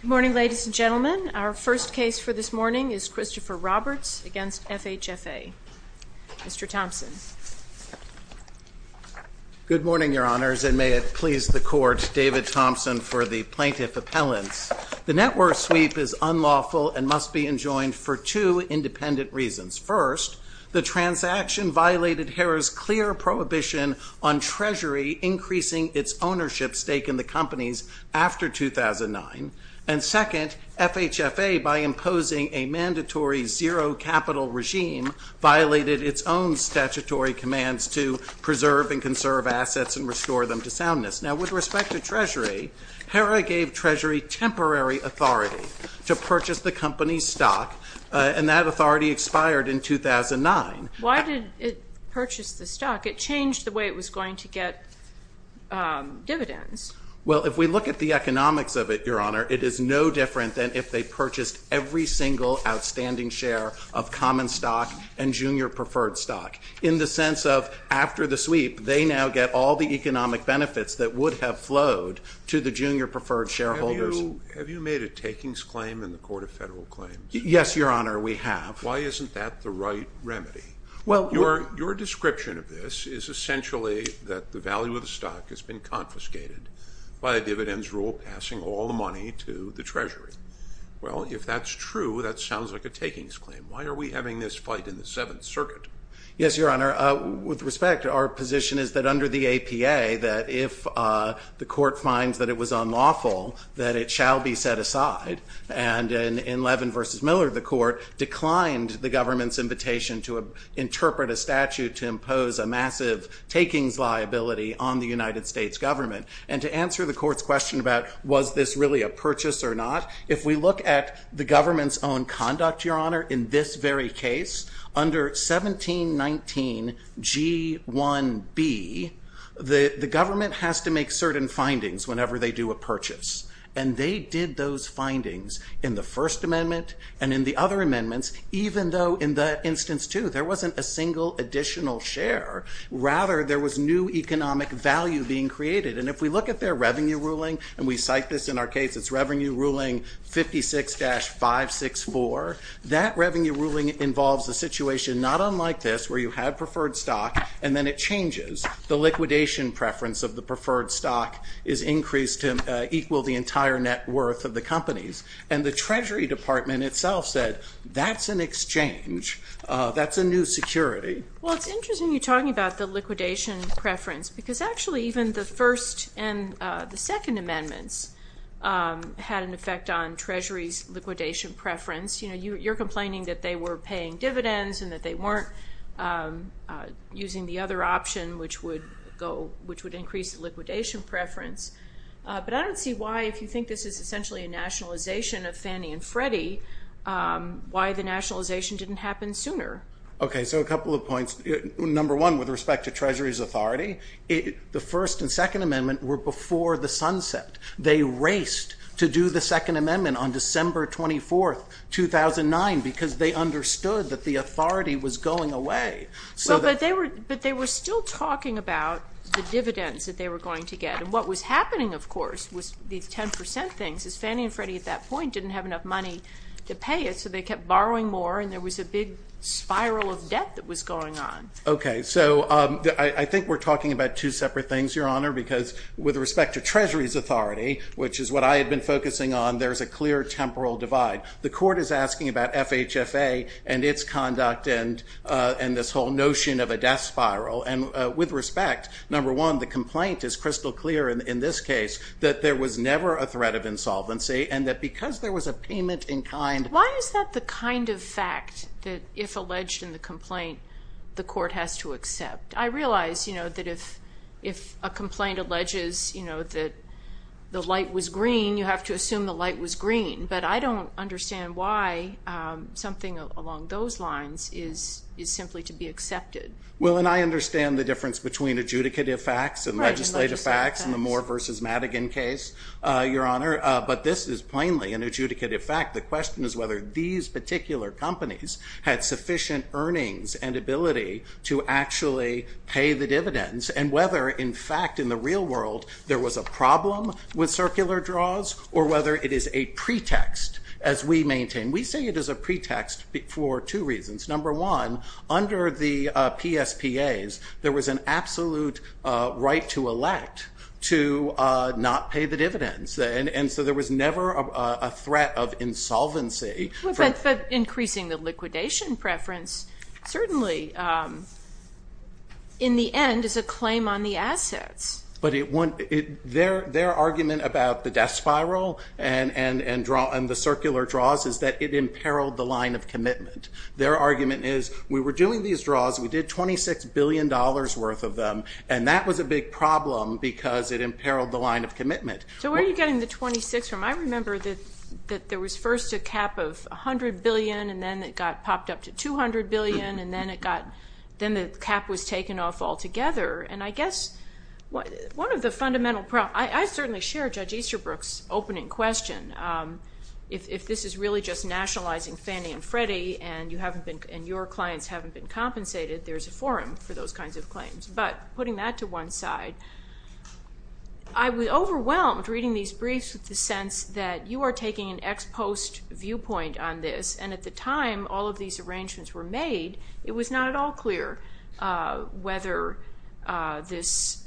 Good morning ladies and gentlemen. Our first case for this morning is Christopher Roberts against FHFA. Mr. Thompson. Good morning your honors and may it please the court, David Thompson for the plaintiff appellants. The network sweep is unlawful and must be enjoined for two independent reasons. First, the transaction violated Harrah's clear prohibition on Treasury increasing its ownership stake in the companies after 2009. And second, FHFA by imposing a mandatory zero capital regime violated its own statutory commands to preserve and conserve assets and restore them to soundness. Now with respect to Treasury, Harrah gave Treasury temporary authority to purchase the company's stock and that authority expired in 2009. Why did it purchase the stock? It changed the way it was going to get dividends. Well if we look at the economics of it your honor, it is no different than if they purchased every single outstanding share of common stock and junior preferred stock. In the sense of after the sweep they now get all the economic benefits that would have flowed to the junior preferred shareholders. Have you made a takings claim in the Court of Federal Claims? Yes your honor we have. Why isn't that the right remedy? Well your description of this is essentially that the value of the stock has been confiscated by a dividends rule passing all the money to the Treasury. Well if that's true that sounds like a takings claim. Why are we having this fight in the Seventh Circuit? Yes your honor, with respect our position is that under the APA that if the court finds that it was unlawful that it shall be set aside and in Levin versus Miller the court declined the government's invitation to interpret a statute to impose a massive takings liability on the United States government. And to answer the court's question about was this really a purchase or not, if we look at the government's own conduct your honor in this very case under 1719 G1B the government has to make certain findings whenever they do a purchase. And they did those findings in the First Amendment and in the other amendments even though in that instance too there wasn't a single additional share rather there was new economic value being created. And if we look at their revenue ruling and we cite this in our case it's revenue ruling 56-564 that revenue ruling involves the situation not unlike this where you have preferred stock and then it changes the liquidation preference of the preferred stock is increased to equal the entire net worth of the treasury department itself said that's an exchange, that's a new security. Well it's interesting you're talking about the liquidation preference because actually even the first and the second amendments had an effect on Treasury's liquidation preference. You know you're complaining that they were paying dividends and that they weren't using the other option which would go which would increase liquidation preference. But I don't see why if you think this is essentially a nationalization of Fannie and Freddie why the nationalization didn't happen sooner. Okay so a couple of points number one with respect to Treasury's authority it the First and Second Amendment were before the sunset. They raced to do the Second Amendment on December 24th 2009 because they understood that the authority was going away. So but they were but they were still talking about the dividends that they were going to get and what was Fannie and Freddie at that point didn't have enough money to pay it so they kept borrowing more and there was a big spiral of debt that was going on. Okay so I think we're talking about two separate things your honor because with respect to Treasury's authority which is what I had been focusing on there's a clear temporal divide. The court is asking about FHFA and its conduct and and this whole notion of a death spiral and with respect number one the complaint is insolvency and that because there was a payment in kind. Why is that the kind of fact that if alleged in the complaint the court has to accept? I realize you know that if if a complaint alleges you know that the light was green you have to assume the light was green but I don't understand why something along those lines is is simply to be accepted. Well and I understand the difference between adjudicative facts and legislative facts and the Moore versus Madigan case your honor but this is plainly an adjudicative fact. The question is whether these particular companies had sufficient earnings and ability to actually pay the dividends and whether in fact in the real world there was a problem with circular draws or whether it is a pretext as we maintain. We say it is a pretext for two reasons. Number one under the PSPAs there was an absolute right to elect to not pay the dividends and and so there was never a threat of insolvency. But increasing the liquidation preference certainly in the end is a claim on the assets. But it wouldn't it their their argument about the death spiral and and and draw and the circular draws is that it imperiled the line of commitment. Their argument is we were doing these billion dollars worth of them and that was a big problem because it imperiled the line of commitment. So where are you getting the 26 from? I remember that that there was first a cap of a hundred billion and then it got popped up to 200 billion and then it got then the cap was taken off altogether and I guess what one of the fundamental problem I certainly share Judge Easterbrook's opening question if this is really just nationalizing Fannie and Freddie and you haven't been and your clients haven't been compensated there's a forum for those kinds of claims but putting that to one side I was overwhelmed reading these briefs with the sense that you are taking an ex post viewpoint on this and at the time all of these arrangements were made it was not at all clear whether this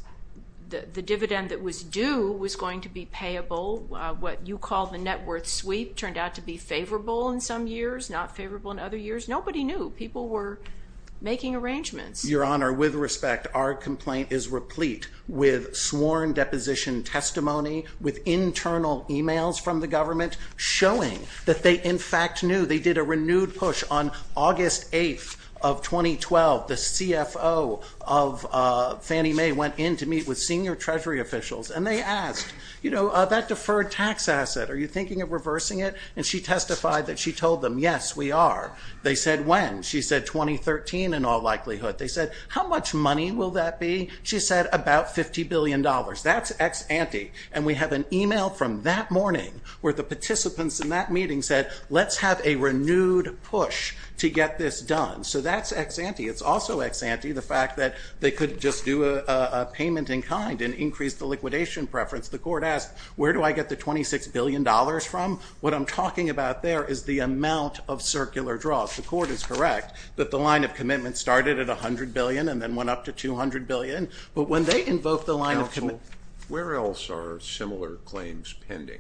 the dividend that was due was going to be payable what you call the net worth sweep turned out to be favorable in some years not favorable in other years nobody knew people were making arrangements. Your Honor with respect our complaint is replete with sworn deposition testimony with internal emails from the government showing that they in fact knew they did a renewed push on August 8th of 2012 the CFO of Fannie Mae went in to meet with senior Treasury officials and they asked you know that deferred tax asset are you testified that she told them yes we are they said when she said 2013 in all likelihood they said how much money will that be she said about 50 billion dollars that's ex-ante and we have an email from that morning where the participants in that meeting said let's have a renewed push to get this done so that's ex-ante it's also ex-ante the fact that they could just do a payment in kind and increase the liquidation preference the court asked where do I get the 26 billion dollars from what I'm talking about there is the amount of circular draws the court is correct that the line of commitment started at a hundred billion and then went up to 200 billion but when they invoked the line of commitment where else are similar claims pending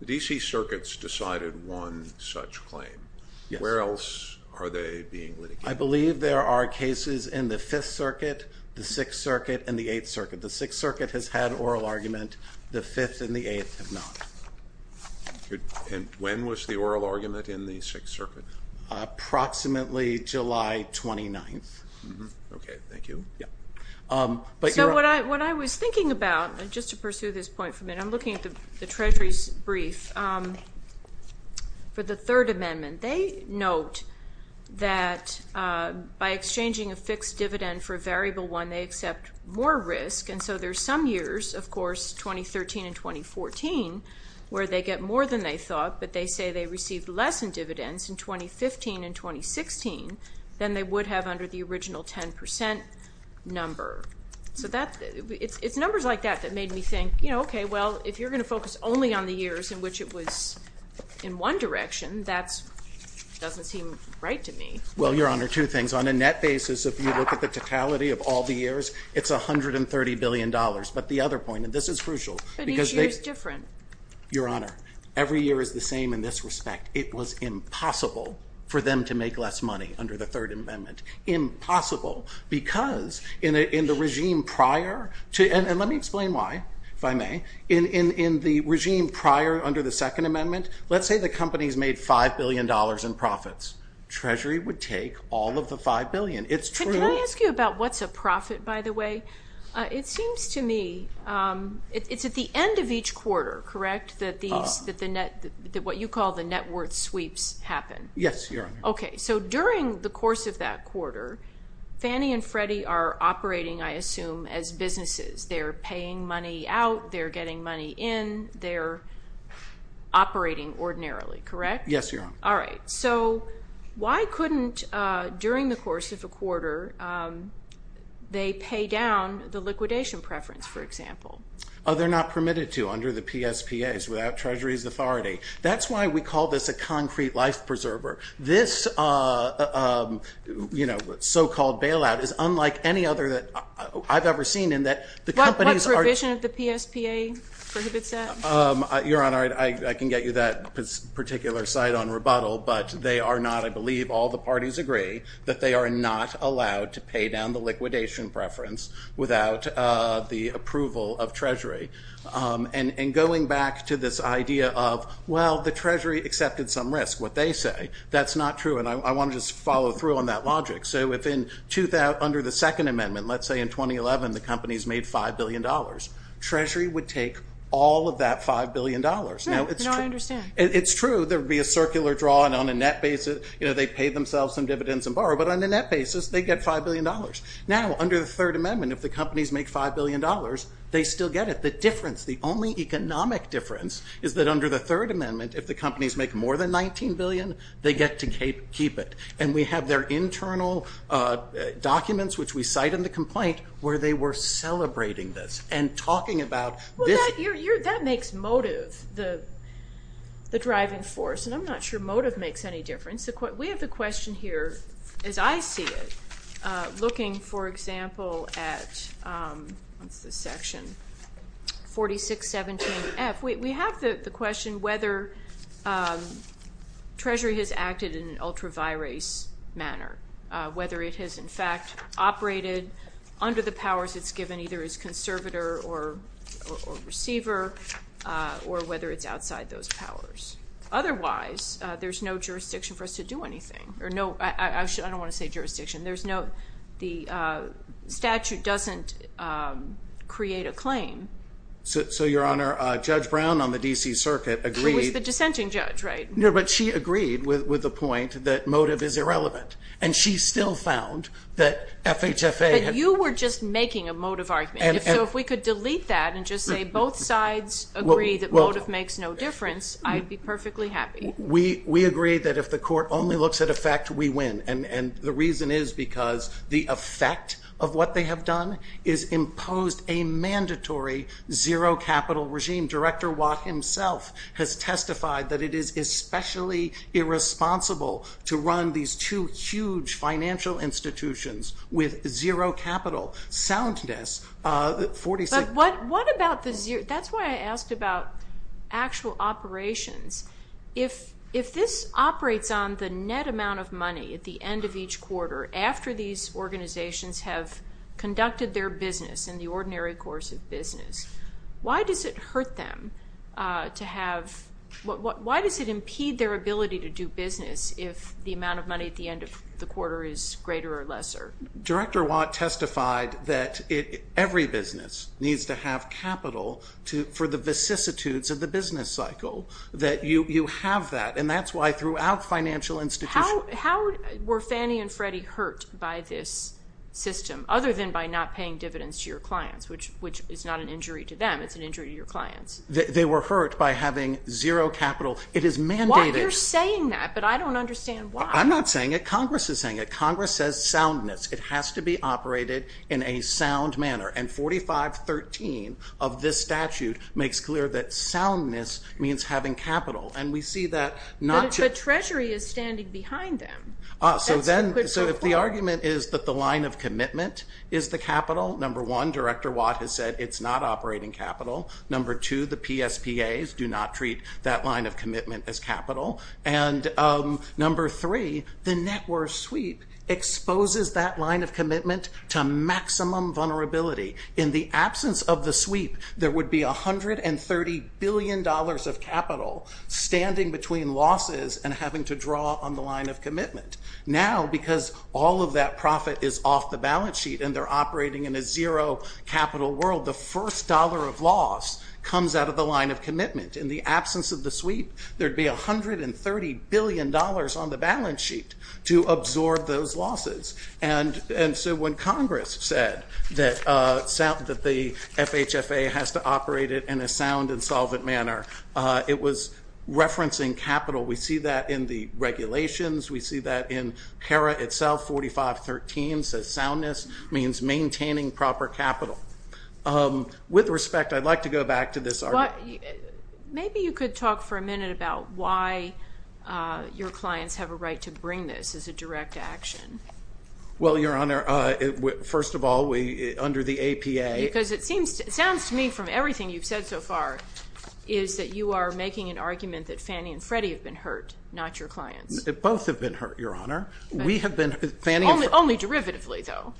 the DC circuits decided one such claim where else are they being litigated I believe there are cases in the Fifth Circuit the Sixth Circuit and the Eighth Circuit the Sixth Circuit has had and the Eighth have not. And when was the oral argument in the Sixth Circuit? Approximately July 29th. Okay thank you. So what I what I was thinking about just to pursue this point for a minute I'm looking at the Treasury's brief for the Third Amendment they note that by exchanging a fixed dividend for a variable one they accept more risk and so there's some years of course 2013 and 2014 where they get more than they thought but they say they received less in dividends in 2015 and 2016 than they would have under the original 10% number so that it's numbers like that that made me think you know okay well if you're gonna focus only on the years in which it was in one direction that's doesn't seem right to me. Well your honor two things on a net basis if you look at the totality of all the years it's a hundred and thirty billion dollars but the other point and this is crucial because it's different your honor every year is the same in this respect it was impossible for them to make less money under the Third Amendment impossible because in the regime prior to and let me explain why if I may in in in the regime prior under the Second Amendment let's say the company's made five billion dollars in profits Treasury would take all of the five billion it's true. Can I ask you about what's a profit by the way it seems to me it's at the end of each quarter correct that these that the net that what you call the net worth sweeps happen. Yes your honor. Okay so during the course of that quarter Fannie and Freddie are operating I assume as businesses they're paying money out they're getting money in they're operating ordinarily correct? Yes your honor. All right so why couldn't during the preference for example. Oh they're not permitted to under the PSPAs without Treasury's authority that's why we call this a concrete life preserver this you know so-called bailout is unlike any other that I've ever seen in that the companies are. What provision of the PSPA prohibits that? Your honor I can get you that particular side on rebuttal but they are not I believe all the parties agree that they are not allowed to pay down the liquidation preference without the approval of Treasury and going back to this idea of well the Treasury accepted some risk what they say that's not true and I want to just follow through on that logic so if in under the second amendment let's say in 2011 the company's made five billion dollars Treasury would take all of that five billion dollars. No I understand. It's true there would be a circular draw and on a net basis you know they pay themselves some dividends and borrow but on the net basis they get five billion dollars. Now under the Third Amendment if the companies make five billion dollars they still get it. The difference the only economic difference is that under the Third Amendment if the companies make more than 19 billion they get to keep it and we have their internal documents which we cite in the complaint where they were celebrating this and talking about this. That makes motive the driving force and I'm not sure motive makes any difference. We have the question here as I see it looking for example at the section 4617 F we have the question whether Treasury has acted in an ultra virus manner whether it has in fact operated under the powers it's given either as conservator or receiver or whether it's outside those powers. Otherwise there's no jurisdiction for us to do anything or no I don't want to say jurisdiction there's no the statute doesn't create a claim. So your honor Judge Brown on the DC Circuit agreed. Who was the dissenting judge right? No but she agreed with with the point that motive is irrelevant and she still found that FHFA. You were just making a motive argument so if we could delete that and motive makes no difference I'd be perfectly happy. We agreed that if the court only looks at effect we win and the reason is because the effect of what they have done is imposed a mandatory zero capital regime. Director Watt himself has testified that it is especially irresponsible to run these two huge financial institutions with zero capital soundness. But what about the zero that's why I asked about actual operations if if this operates on the net amount of money at the end of each quarter after these organizations have conducted their business in the ordinary course of business why does it hurt them to have what why does it impede their ability to do business if the amount of money at the end of the quarter is greater or lesser? Director business needs to have capital to for the vicissitudes of the business cycle that you you have that and that's why throughout financial institutions. How were Fannie and Freddie hurt by this system other than by not paying dividends to your clients which which is not an injury to them it's an injury to your clients. They were hurt by having zero capital it is mandated. You're saying that but I don't understand why. I'm not saying it Congress is saying it Congress says soundness it has to be operated in a sound manner and 4513 of this statute makes clear that soundness means having capital and we see that not the Treasury is standing behind them. So then so if the argument is that the line of commitment is the capital number one Director Watt has said it's not operating capital number two the PSPAs do not treat that line of commitment as number three the net worth sweep exposes that line of commitment to maximum vulnerability. In the absence of the sweep there would be a hundred and thirty billion dollars of capital standing between losses and having to draw on the line of commitment. Now because all of that profit is off the balance sheet and they're operating in a zero capital world the first dollar of loss comes out of the line of commitment. In the absence of the sweep there'd be a billion dollars on the balance sheet to absorb those losses and and so when Congress said that the FHFA has to operate it in a sound and solvent manner it was referencing capital. We see that in the regulations we see that in HERA itself 4513 says soundness means maintaining proper capital. With respect I'd like to go back to this argument. Maybe you could talk for a minute about whether or not your clients have a right to bring this as a direct action. Well Your Honor first of all we under the APA. Because it seems it sounds to me from everything you've said so far is that you are making an argument that Fannie and Freddie have been hurt not your clients. Both have been hurt Your Honor. We have been. Only derivatively though.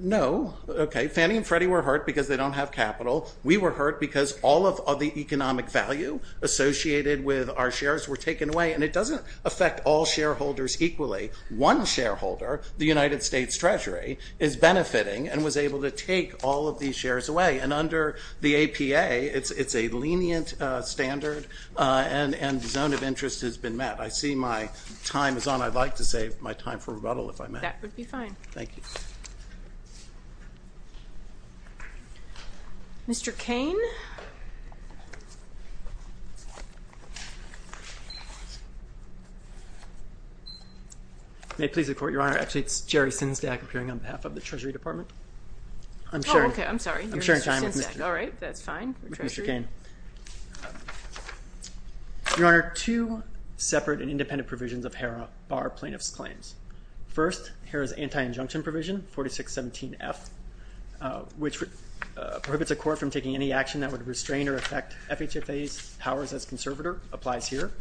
No okay Fannie and Freddie were hurt because they don't have capital. We were hurt because all of the economic value associated with our shares were taken away and it doesn't affect all shareholders equally. One shareholder the United States Treasury is benefiting and was able to take all of these shares away and under the APA it's it's a lenient standard and and zone of interest has been met. I see my time is on I'd like to save my time for rebuttal if I may. That would be fine. Thank you. Mr. Cain. May it please the Court. Your Honor actually it's Jerry Sinsdag appearing on behalf of the Treasury Department. I'm sorry. I'm sharing time with Mr. Cain. Your Honor two separate and independent provisions of HERA bar plaintiffs claims. First HERA's anti-injunction provision 4617 F which prohibits a court from taking any action that would restrain or affect FHFA's powers as conservator applies here.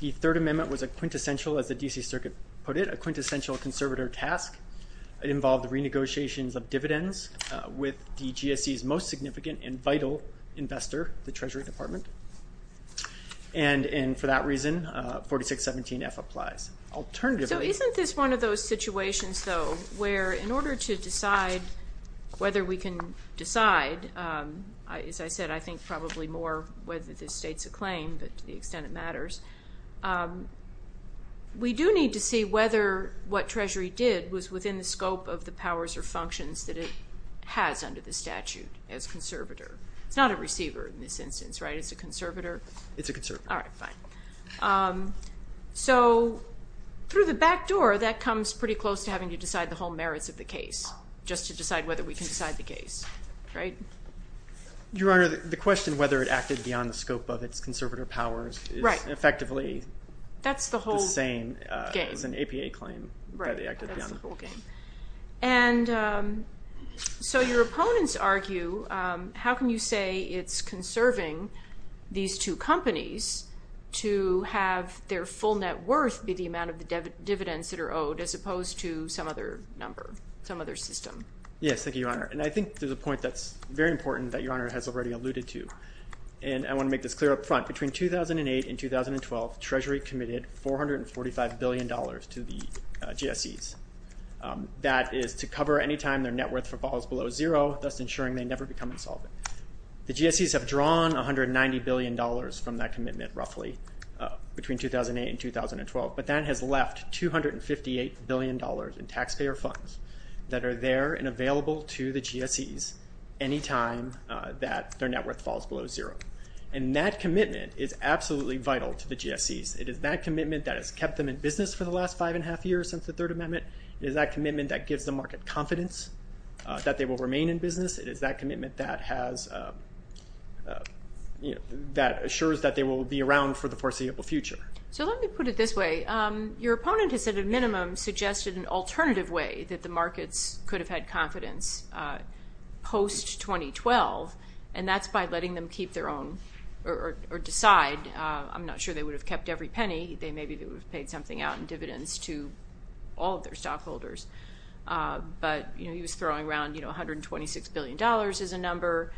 The Third Amendment was a quintessential as the DC Circuit put it a quintessential conservator task. It involved the renegotiations of dividends with the GSE's most significant and vital investor the Treasury Department and and for that reason 4617 F applies. So isn't this one of those situations though where in order to decide whether we can decide as I said I think probably more whether this states a claim but to the extent it matters. We do need to see whether what Treasury did was within the scope of the powers or functions that it has under the statute as conservator. It's not a receiver in this instance right it's a conservator. It's a conservator. So through the back door that comes pretty close to having to decide the whole merits of the case just to decide whether we can decide the case right. Your Honor the question whether it acted beyond the scope of its conservator powers right effectively that's the whole same as an APA claim. And so your opponents argue how can you say it's conserving these two companies to have their full net worth be the amount of the dividends that are owed as opposed to some other number some other system. Yes thank you your Honor and I think there's a point that's very important that your Honor has already alluded to and I want to make this clear up front between 2008 and 2012 Treasury committed four hundred and forty five billion dollars to the GSE's. That is to cover any time their net worth falls below zero thus ensuring they never become insolvent. The GSE's have drawn 190 billion dollars from that commitment roughly between 2008 and 2012 but that has left 258 billion dollars in taxpayer funds that are there and available to the GSE's anytime that their net worth falls below zero. And that commitment is absolutely vital to the GSE's. It is that commitment that has kept them in business for the last five and a half years since the Third Amendment. It is that commitment that they will remain in business. It is that commitment that has you know that assures that they will be around for the foreseeable future. So let me put it this way your opponent has at a minimum suggested an alternative way that the markets could have had confidence post 2012 and that's by letting them keep their own or decide. I'm not sure they would have kept every penny they maybe they would have paid something out in dividends to all of their stockholders but you know he was throwing around you know 126 billion dollars is a number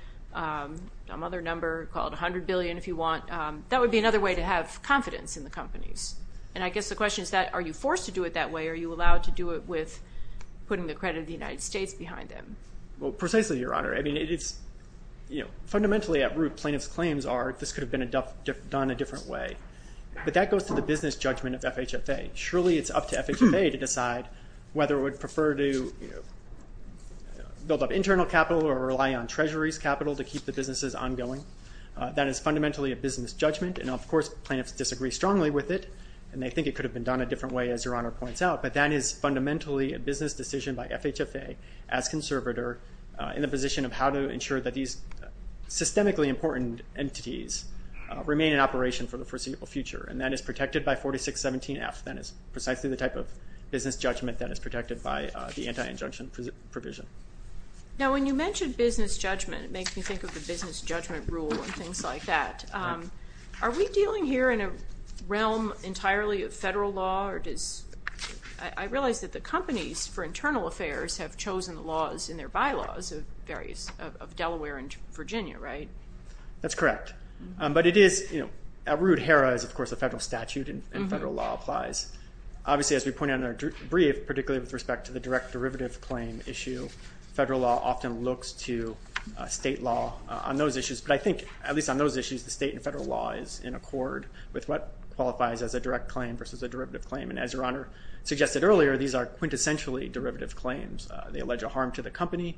another number called 100 billion if you want. That would be another way to have confidence in the companies and I guess the question is that are you forced to do it that way? Are you allowed to do it with putting the credit of the United States behind them? Well precisely your honor. I mean it's you know fundamentally at root plaintiffs claims are this could have been done a different way but that goes to the business judgment of FHFA. Surely it's up to FHFA to decide whether it would prefer to build up internal capital or rely on Treasury's capital to keep the businesses ongoing. That is fundamentally a business judgment and of course plaintiffs disagree strongly with it and they think it could have been done a different way as your honor points out but that is fundamentally a business decision by FHFA as conservator in the position of how to ensure that these systemically important entities remain in operation for the foreseeable future and that is protected by 4617 F. That is precisely the type of business judgment that is protected by the anti-injunction provision. Now when you mention business judgment it makes me think of the business judgment rule and things like that. Are we dealing here in a realm entirely of federal law or does I realize that the companies for internal affairs have chosen the laws in their bylaws of various of Delaware and Virginia right? That's correct but it is you know at root HERA is of course a obviously as we pointed out in our brief particularly with respect to the direct derivative claim issue federal law often looks to state law on those issues but I think at least on those issues the state and federal law is in accord with what qualifies as a direct claim versus a derivative claim and as your honor suggested earlier these are quintessentially derivative claims. They allege a harm to the company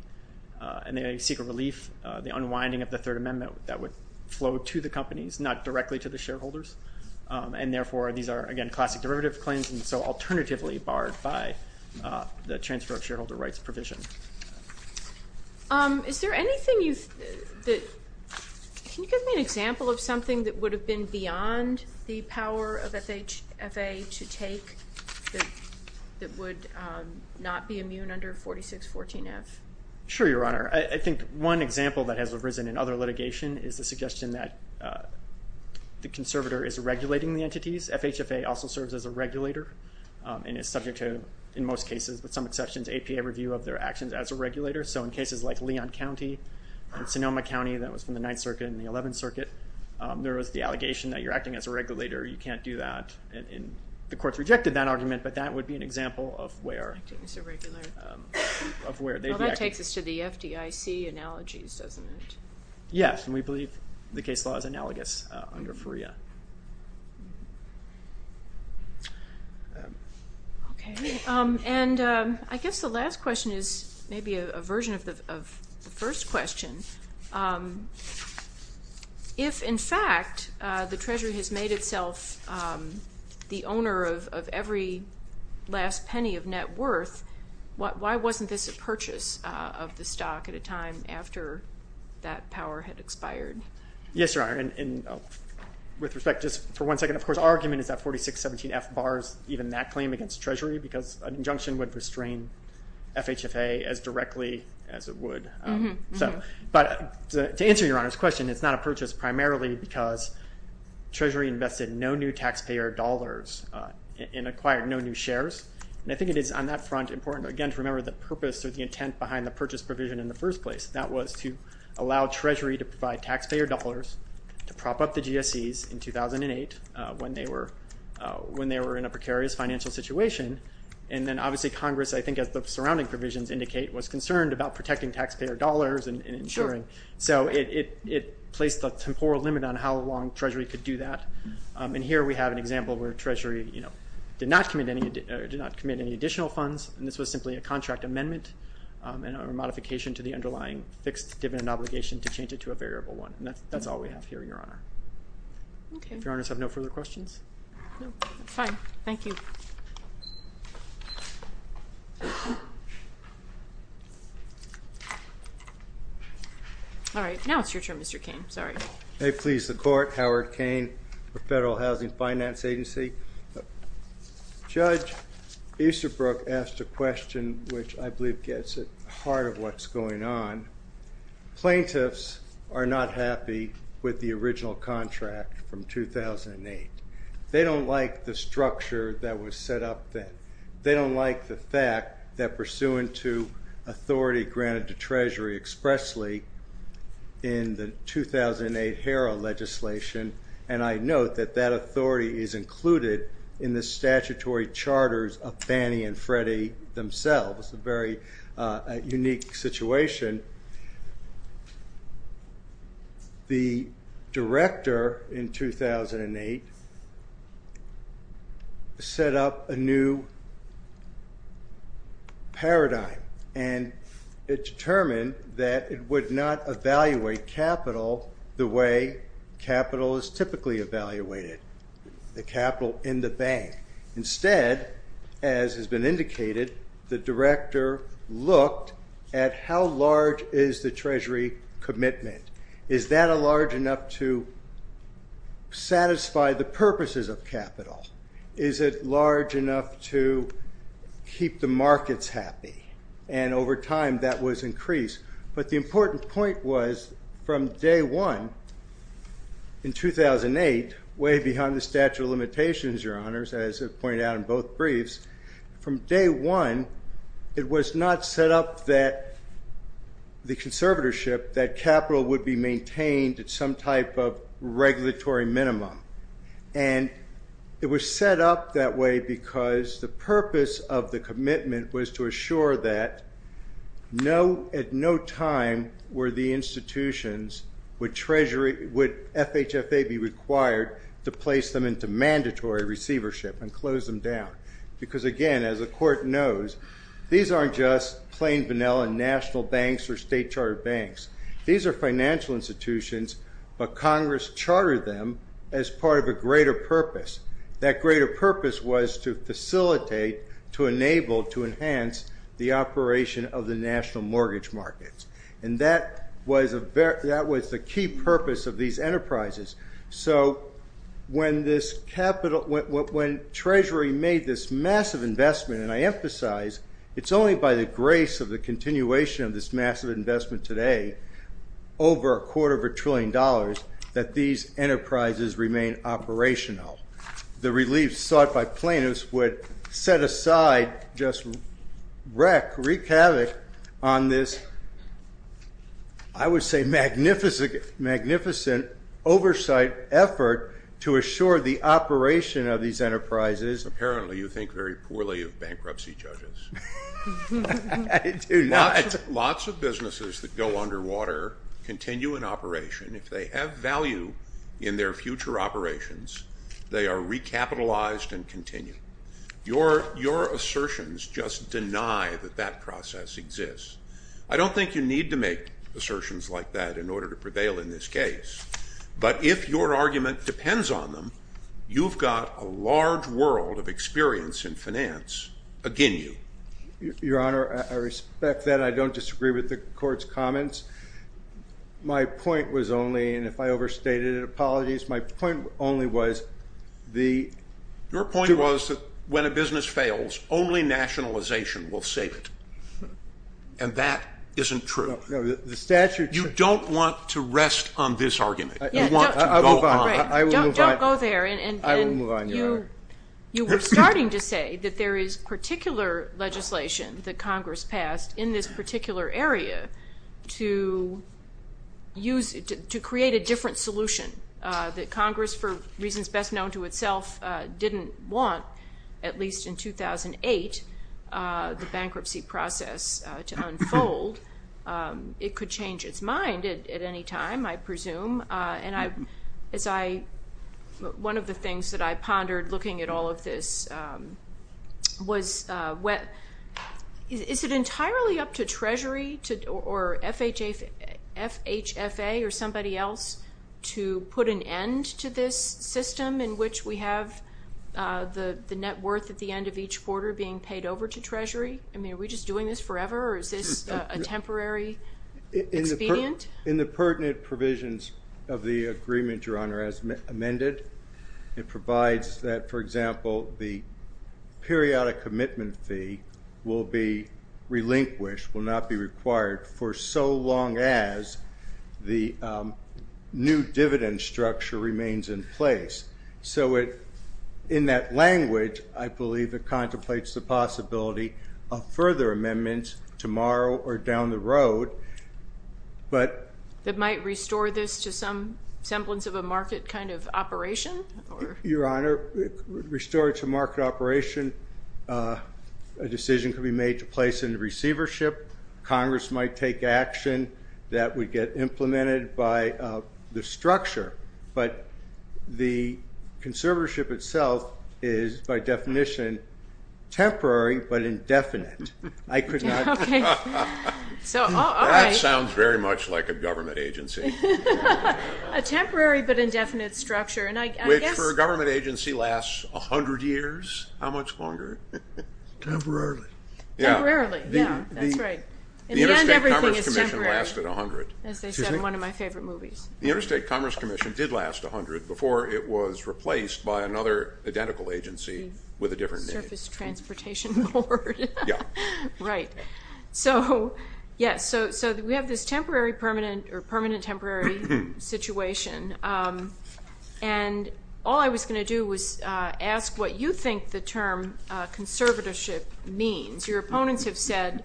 and they seek a relief the unwinding of the Third Amendment that would flow to the companies not directly to the so alternatively barred by the transfer of shareholder rights provision. Is there anything you that, can you give me an example of something that would have been beyond the power of FHFA to take that would not be immune under 4614 F? Sure your honor. I think one example that has arisen in other litigation is the suggestion that the conservator is regulating the entities. FHFA also serves as a regulator and is subject to in most cases with some exceptions APA review of their actions as a regulator so in cases like Leon County and Sonoma County that was from the Ninth Circuit and the Eleventh Circuit there was the allegation that you're acting as a regulator you can't do that and the courts rejected that argument but that would be an example of where of where that takes us to the FDIC analogies doesn't it? Yes and we believe the case law is analogous under FREA. Okay and I guess the last question is maybe a version of the first question. If in fact the Treasury has made itself the owner of every last penny of net worth what why wasn't this a purchase of the stock at a time after that power had expired? Yes your honor and with respect just for one second of course argument is that 4617 F bars even that claim against Treasury because an injunction would restrain FHFA as directly as it would so but to answer your honor's question it's not a purchase primarily because Treasury invested no new taxpayer dollars and acquired no new shares and I think it is on that front important again to remember the purpose or the first place that was to allow Treasury to provide taxpayer dollars to prop up the GSEs in 2008 when they were when they were in a precarious financial situation and then obviously Congress I think as the surrounding provisions indicate was concerned about protecting taxpayer dollars and ensuring so it placed a temporal limit on how long Treasury could do that and here we have an example where Treasury you know did not commit any additional funds and this was simply a contract amendment and a modification to the underlying fixed dividend obligation to change it to a variable one and that's that's all we have here your honor. Okay. If your honors have no further questions. Fine, thank you. All right now it's your turn Mr. Cain, sorry. May it please the court, Howard Cain for Federal Housing Finance Agency. Judge Easterbrook asked a question which I plaintiffs are not happy with the original contract from 2008. They don't like the structure that was set up then. They don't like the fact that pursuant to authority granted to Treasury expressly in the 2008 HERA legislation and I note that that authority is included in the statutory charters of legislation, the director in 2008 set up a new paradigm and it determined that it would not evaluate capital the way capital is typically evaluated, the capital in the bank. Instead, as has been indicated, the director looked at how large is the Treasury commitment. Is that a large enough to satisfy the purposes of capital? Is it large enough to keep the markets happy? And over time that was increased but the important point was from day one in 2008, way behind the statute of limitations your honors, as I've pointed out in both briefs, from day one it was not set up that the conservatorship, that capital would be maintained at some type of regulatory minimum and it was set up that way because the purpose of the commitment was to assure that at no time were the institutions, would FHFA be required to place them into those. These aren't just plain vanilla national banks or state chartered banks. These are financial institutions but Congress chartered them as part of a greater purpose. That greater purpose was to facilitate, to enable, to enhance the operation of the national mortgage markets and that was the key purpose of these enterprises. So when Treasury made this massive investment, and I emphasize, it's only by the grace of the continuation of this massive investment today, over a quarter of a trillion dollars, that these enterprises remain operational. The relief sought by plaintiffs would set aside, just wreck, wreak havoc on this, I would say magnificent oversight effort to assure the operation of these very poorly of bankruptcy judges. Lots of businesses that go underwater continue in operation. If they have value in their future operations, they are recapitalized and continue. Your assertions just deny that that process exists. I don't think you need to make assertions like that in order to prevail in this case, but if your argument depends on them, you've got a lot of money in finance. Again, you. Your Honor, I respect that. I don't disagree with the court's comments. My point was only, and if I overstated it, apologies, my point only was the... Your point was that when a business fails, only nationalization will save it, and that isn't true. The statute... You don't want to rest on this that there is particular legislation that Congress passed in this particular area to use, to create a different solution that Congress, for reasons best known to itself, didn't want, at least in 2008, the bankruptcy process to unfold. It could change its mind at any time, I presume, and I, as I, one of the things that I pondered looking at all of this was, is it entirely up to Treasury or FHFA or somebody else to put an end to this system in which we have the net worth at the end of each quarter being paid over to Treasury? I mean, are we just doing this forever, or is this a temporary expedient? In the pertinent provisions of the agreement, Your Honor, as amended, it provides that, for example, the periodic commitment fee will be relinquished, will not be required for so long as the new dividend structure remains in place. So it, in that language, I believe it contemplates the possibility of further amendments tomorrow or down the road, but... That might restore this to some semblance of a market kind of operation? Your Honor, restore it to market operation, a decision could be made to place it in receivership. Congress might take action that would get implemented by the structure, but the conservatorship itself is, by definition, temporary but indefinite. I could not... That sounds very much like a government agency. A temporary but indefinite structure, and I guess... Which for a government agency lasts a hundred years. How much longer? Temporarily. Temporarily, yeah, that's right. And then everything is temporary. The Interstate Commerce Commission lasted a hundred. As they said in one of my favorite movies. The Interstate Commerce Commission did last a hundred before it was replaced by another identical agency with a different name. Surface Transportation Board. Yeah. Right. So, yes, so we have this temporary, permanent, or permanent-temporary situation, and all I was going to do was ask what you think the term conservatorship means. Your opponents have said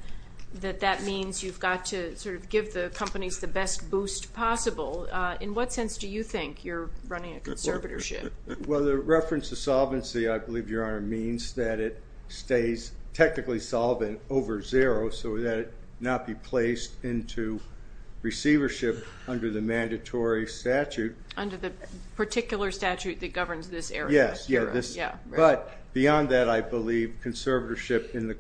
that that means you've got to sort of give the companies the best boost possible. In what sense do you think you're running a conservatorship? Well, the reference to solvency, I believe, Your Honor, means that it stays technically solvent over zero, so that it not be placed into receivership under the mandatory statute. Under the particular statute that governs this area. Yes, but beyond that, I believe conservatorship in the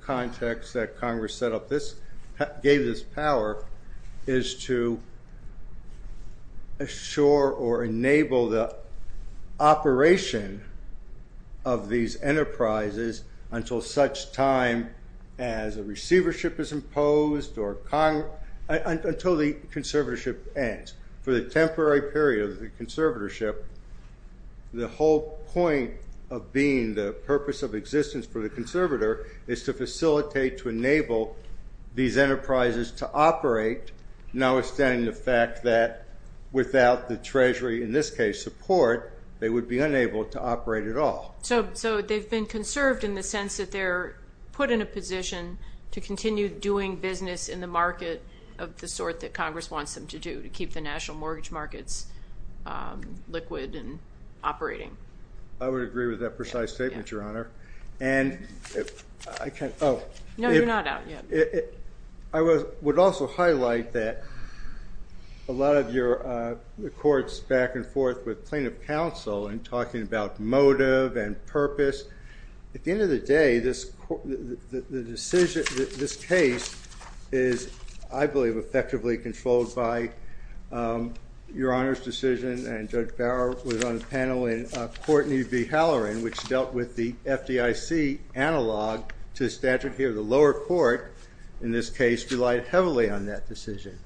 enable the operation of these enterprises until such time as a receivership is imposed, or until the conservatorship ends. For the temporary period of the conservatorship, the whole point of being the purpose of existence for the conservator is to facilitate, to enable these enterprises to operate, now in this case, support, they would be unable to operate at all. So they've been conserved in the sense that they're put in a position to continue doing business in the market of the sort that Congress wants them to do, to keep the national mortgage markets liquid and operating. I would agree with that precise statement, Your Honor, and I can't, oh. No, you're not out yet. I would also highlight that a lot of the courts back and forth with plaintiff counsel and talking about motive and purpose, at the end of the day, this decision, this case is, I believe, effectively controlled by Your Honor's decision, and Judge Barrow was on the panel in Courtney v. Halloran, which dealt with the FDIC analog to statute here, the lower court, in this case, relied heavily on that decision.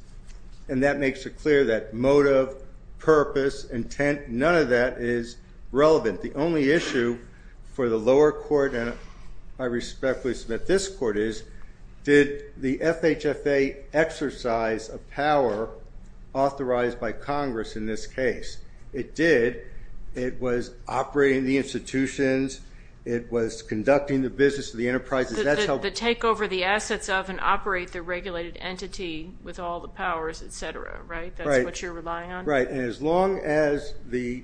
And that makes it clear that motive, purpose, intent, none of that is relevant. The only issue for the lower court, and I respectfully submit this court is, did the FHFA exercise a power authorized by Congress in this case? It did. It was operating the institutions, it was conducting the business of the enterprises, that's how- The take over the assets of and operate the regulated entity with all the powers, etc., right? That's what you're relying on? Right, and as long as the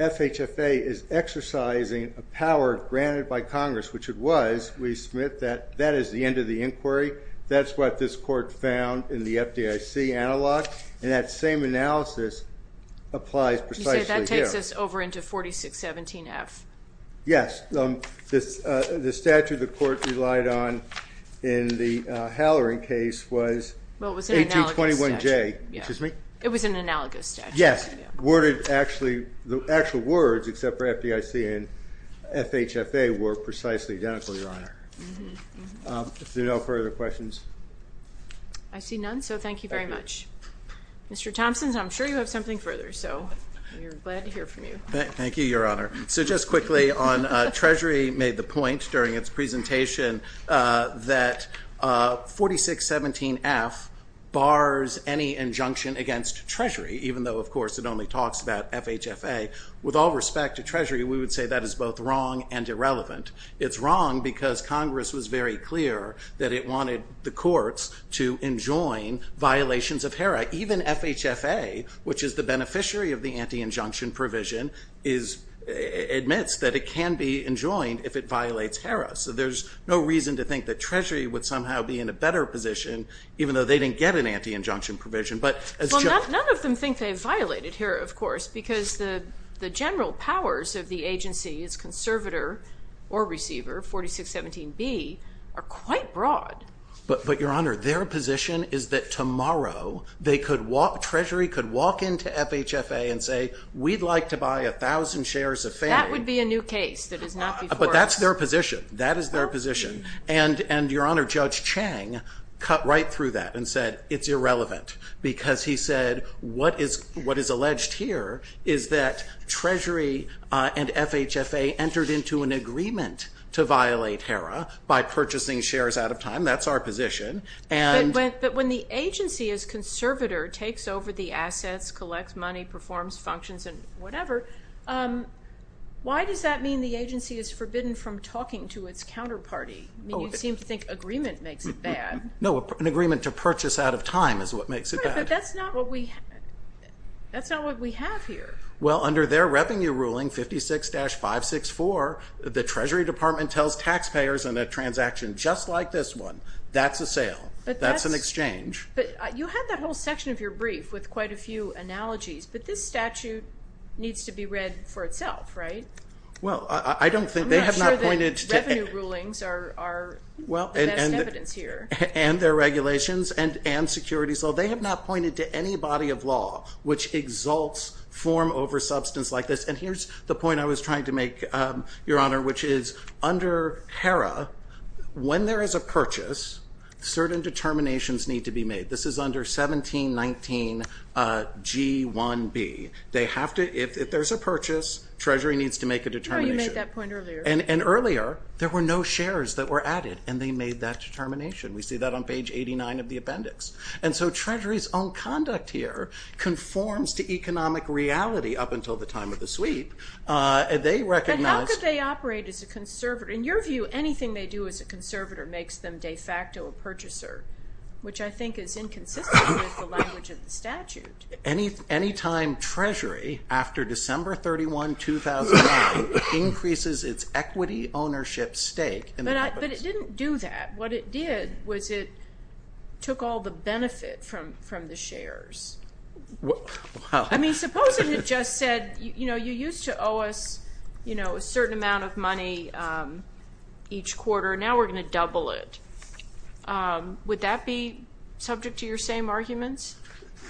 FHFA is exercising a power granted by Congress, which it was, we submit that that is the end of the inquiry. That's what this court found in the FDIC analog, and that same analysis applies precisely here. You said that takes us over into 4617F. Yes, the statute the court relied on in the Halloran case was 1821J. It was an analogous statute. Yes, worded actually, the actual words except for FDIC and FHFA were precisely identical, Your Honor. If there are no further questions? I see none, so thank you very much. Mr. Thompson, I'm sure you have something further, so we're glad to hear from you. Thank you, Your Honor. So just quickly on Treasury made the point during its presentation that 4617F bars any injunction against Treasury, even though of course it only talks about FHFA. With all respect to Treasury, we would say that is both wrong and irrelevant. It's wrong because Congress was very clear that it wanted the courts to enjoin violations of HERA. Even FHFA, which is the beneficiary of the anti-injunction provision, admits that it can be enjoined if it violates HERA. So there's no reason to think that Treasury would somehow be in a better position, even though they didn't get an anti-injunction provision. But none of them think they violated HERA, of course, because the general powers of the agency as conservator or receiver, 4617B, are quite broad. But, Your Honor, their position is that tomorrow they could walk, Treasury could walk into FHFA and say we'd like to buy a thousand shares of FAME. That would be a new case. But that's their position. That is their position. And, Your Honor, Judge Chang cut right through that and said it's irrelevant because he said what is alleged here is that Treasury and FHFA entered into an agreement to violate HERA by purchasing shares out of time. That's our position. But when the agency as conservator takes over the assets, collects money, performs functions, and talks to its counterparty, you seem to think agreement makes it bad. No, an agreement to purchase out of time is what makes it bad. That's not what we have here. Well, under their revenue ruling, 56-564, the Treasury Department tells taxpayers in a transaction just like this one, that's a sale, that's an exchange. But you had that whole section of your brief with quite a few analogies, but this statute needs to be read for itself, right? Well, I don't think they have not pointed... I'm not sure that revenue rulings are the best evidence here. And their regulations and securities law. They have not pointed to any body of law which exalts form over substance like this. And here's the point I was trying to make, Your Honor, which is under HERA, when there is a purchase, certain determinations need to be made. This is under 1719 G1B. They have to, if there's a purchase, Treasury needs to make a purchase. And earlier, there were no shares that were added and they made that determination. We see that on page 89 of the appendix. And so Treasury's own conduct here conforms to economic reality up until the time of the sweep. They recognize... And how could they operate as a conservator? In your view, anything they do as a conservator makes them de facto a purchaser, which I think is inconsistent with the language of the statute. Any time Treasury, after December 31, 2009, increases its equity ownership stake... But it didn't do that. What it did was it took all the benefit from the shares. I mean, supposing it just said, you know, you used to owe us, you know, a certain amount of money each quarter. Now we're going to double it. Would that be subject to your same arguments?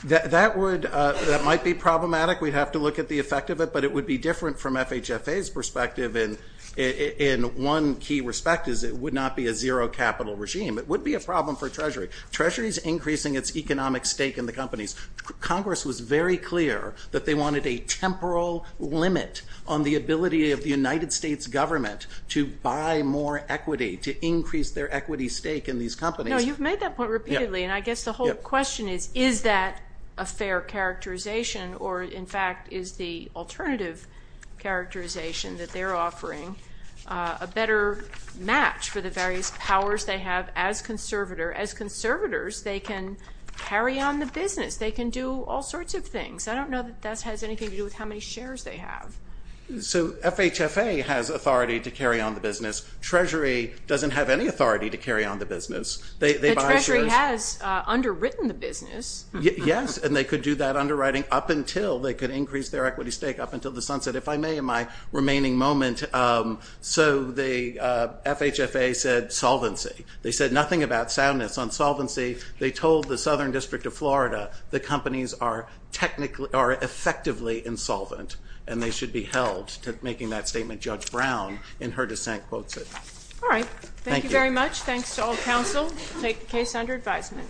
That might be problematic. We'd have to look at the effect of it, but it would be different from FHFA's perspective in one key respect, is it would not be a zero capital regime. It would be a problem for Treasury. Treasury's increasing its economic stake in the companies. Congress was very clear that they wanted a temporal limit on the ability of the United States government to buy more equity, to increase their equity stake in these companies. No, you've made that point repeatedly, and I guess the whole question is, is that a fair characterization, or in fact, is the alternative characterization that they're offering a better match for the various powers they have as conservator? As conservators, they can carry on the business. They can do all sorts of things. I don't know that that has anything to do with how many shares they have. So FHFA has authority to carry on the business. Treasury doesn't have any authority to carry on the business. The Treasury has underwritten the business. Yes, and they could do that underwriting up until they could increase their equity stake up until the sunset, if I may, in my remaining moment. So the FHFA said solvency. They said nothing about soundness on solvency. They told the Southern District of Florida the companies are technically, are effectively insolvent, and they should be held to making that statement. Judge Brown, in her dissent, quotes it. All right, thank you very much. Thanks to all counsel. Case under advisement.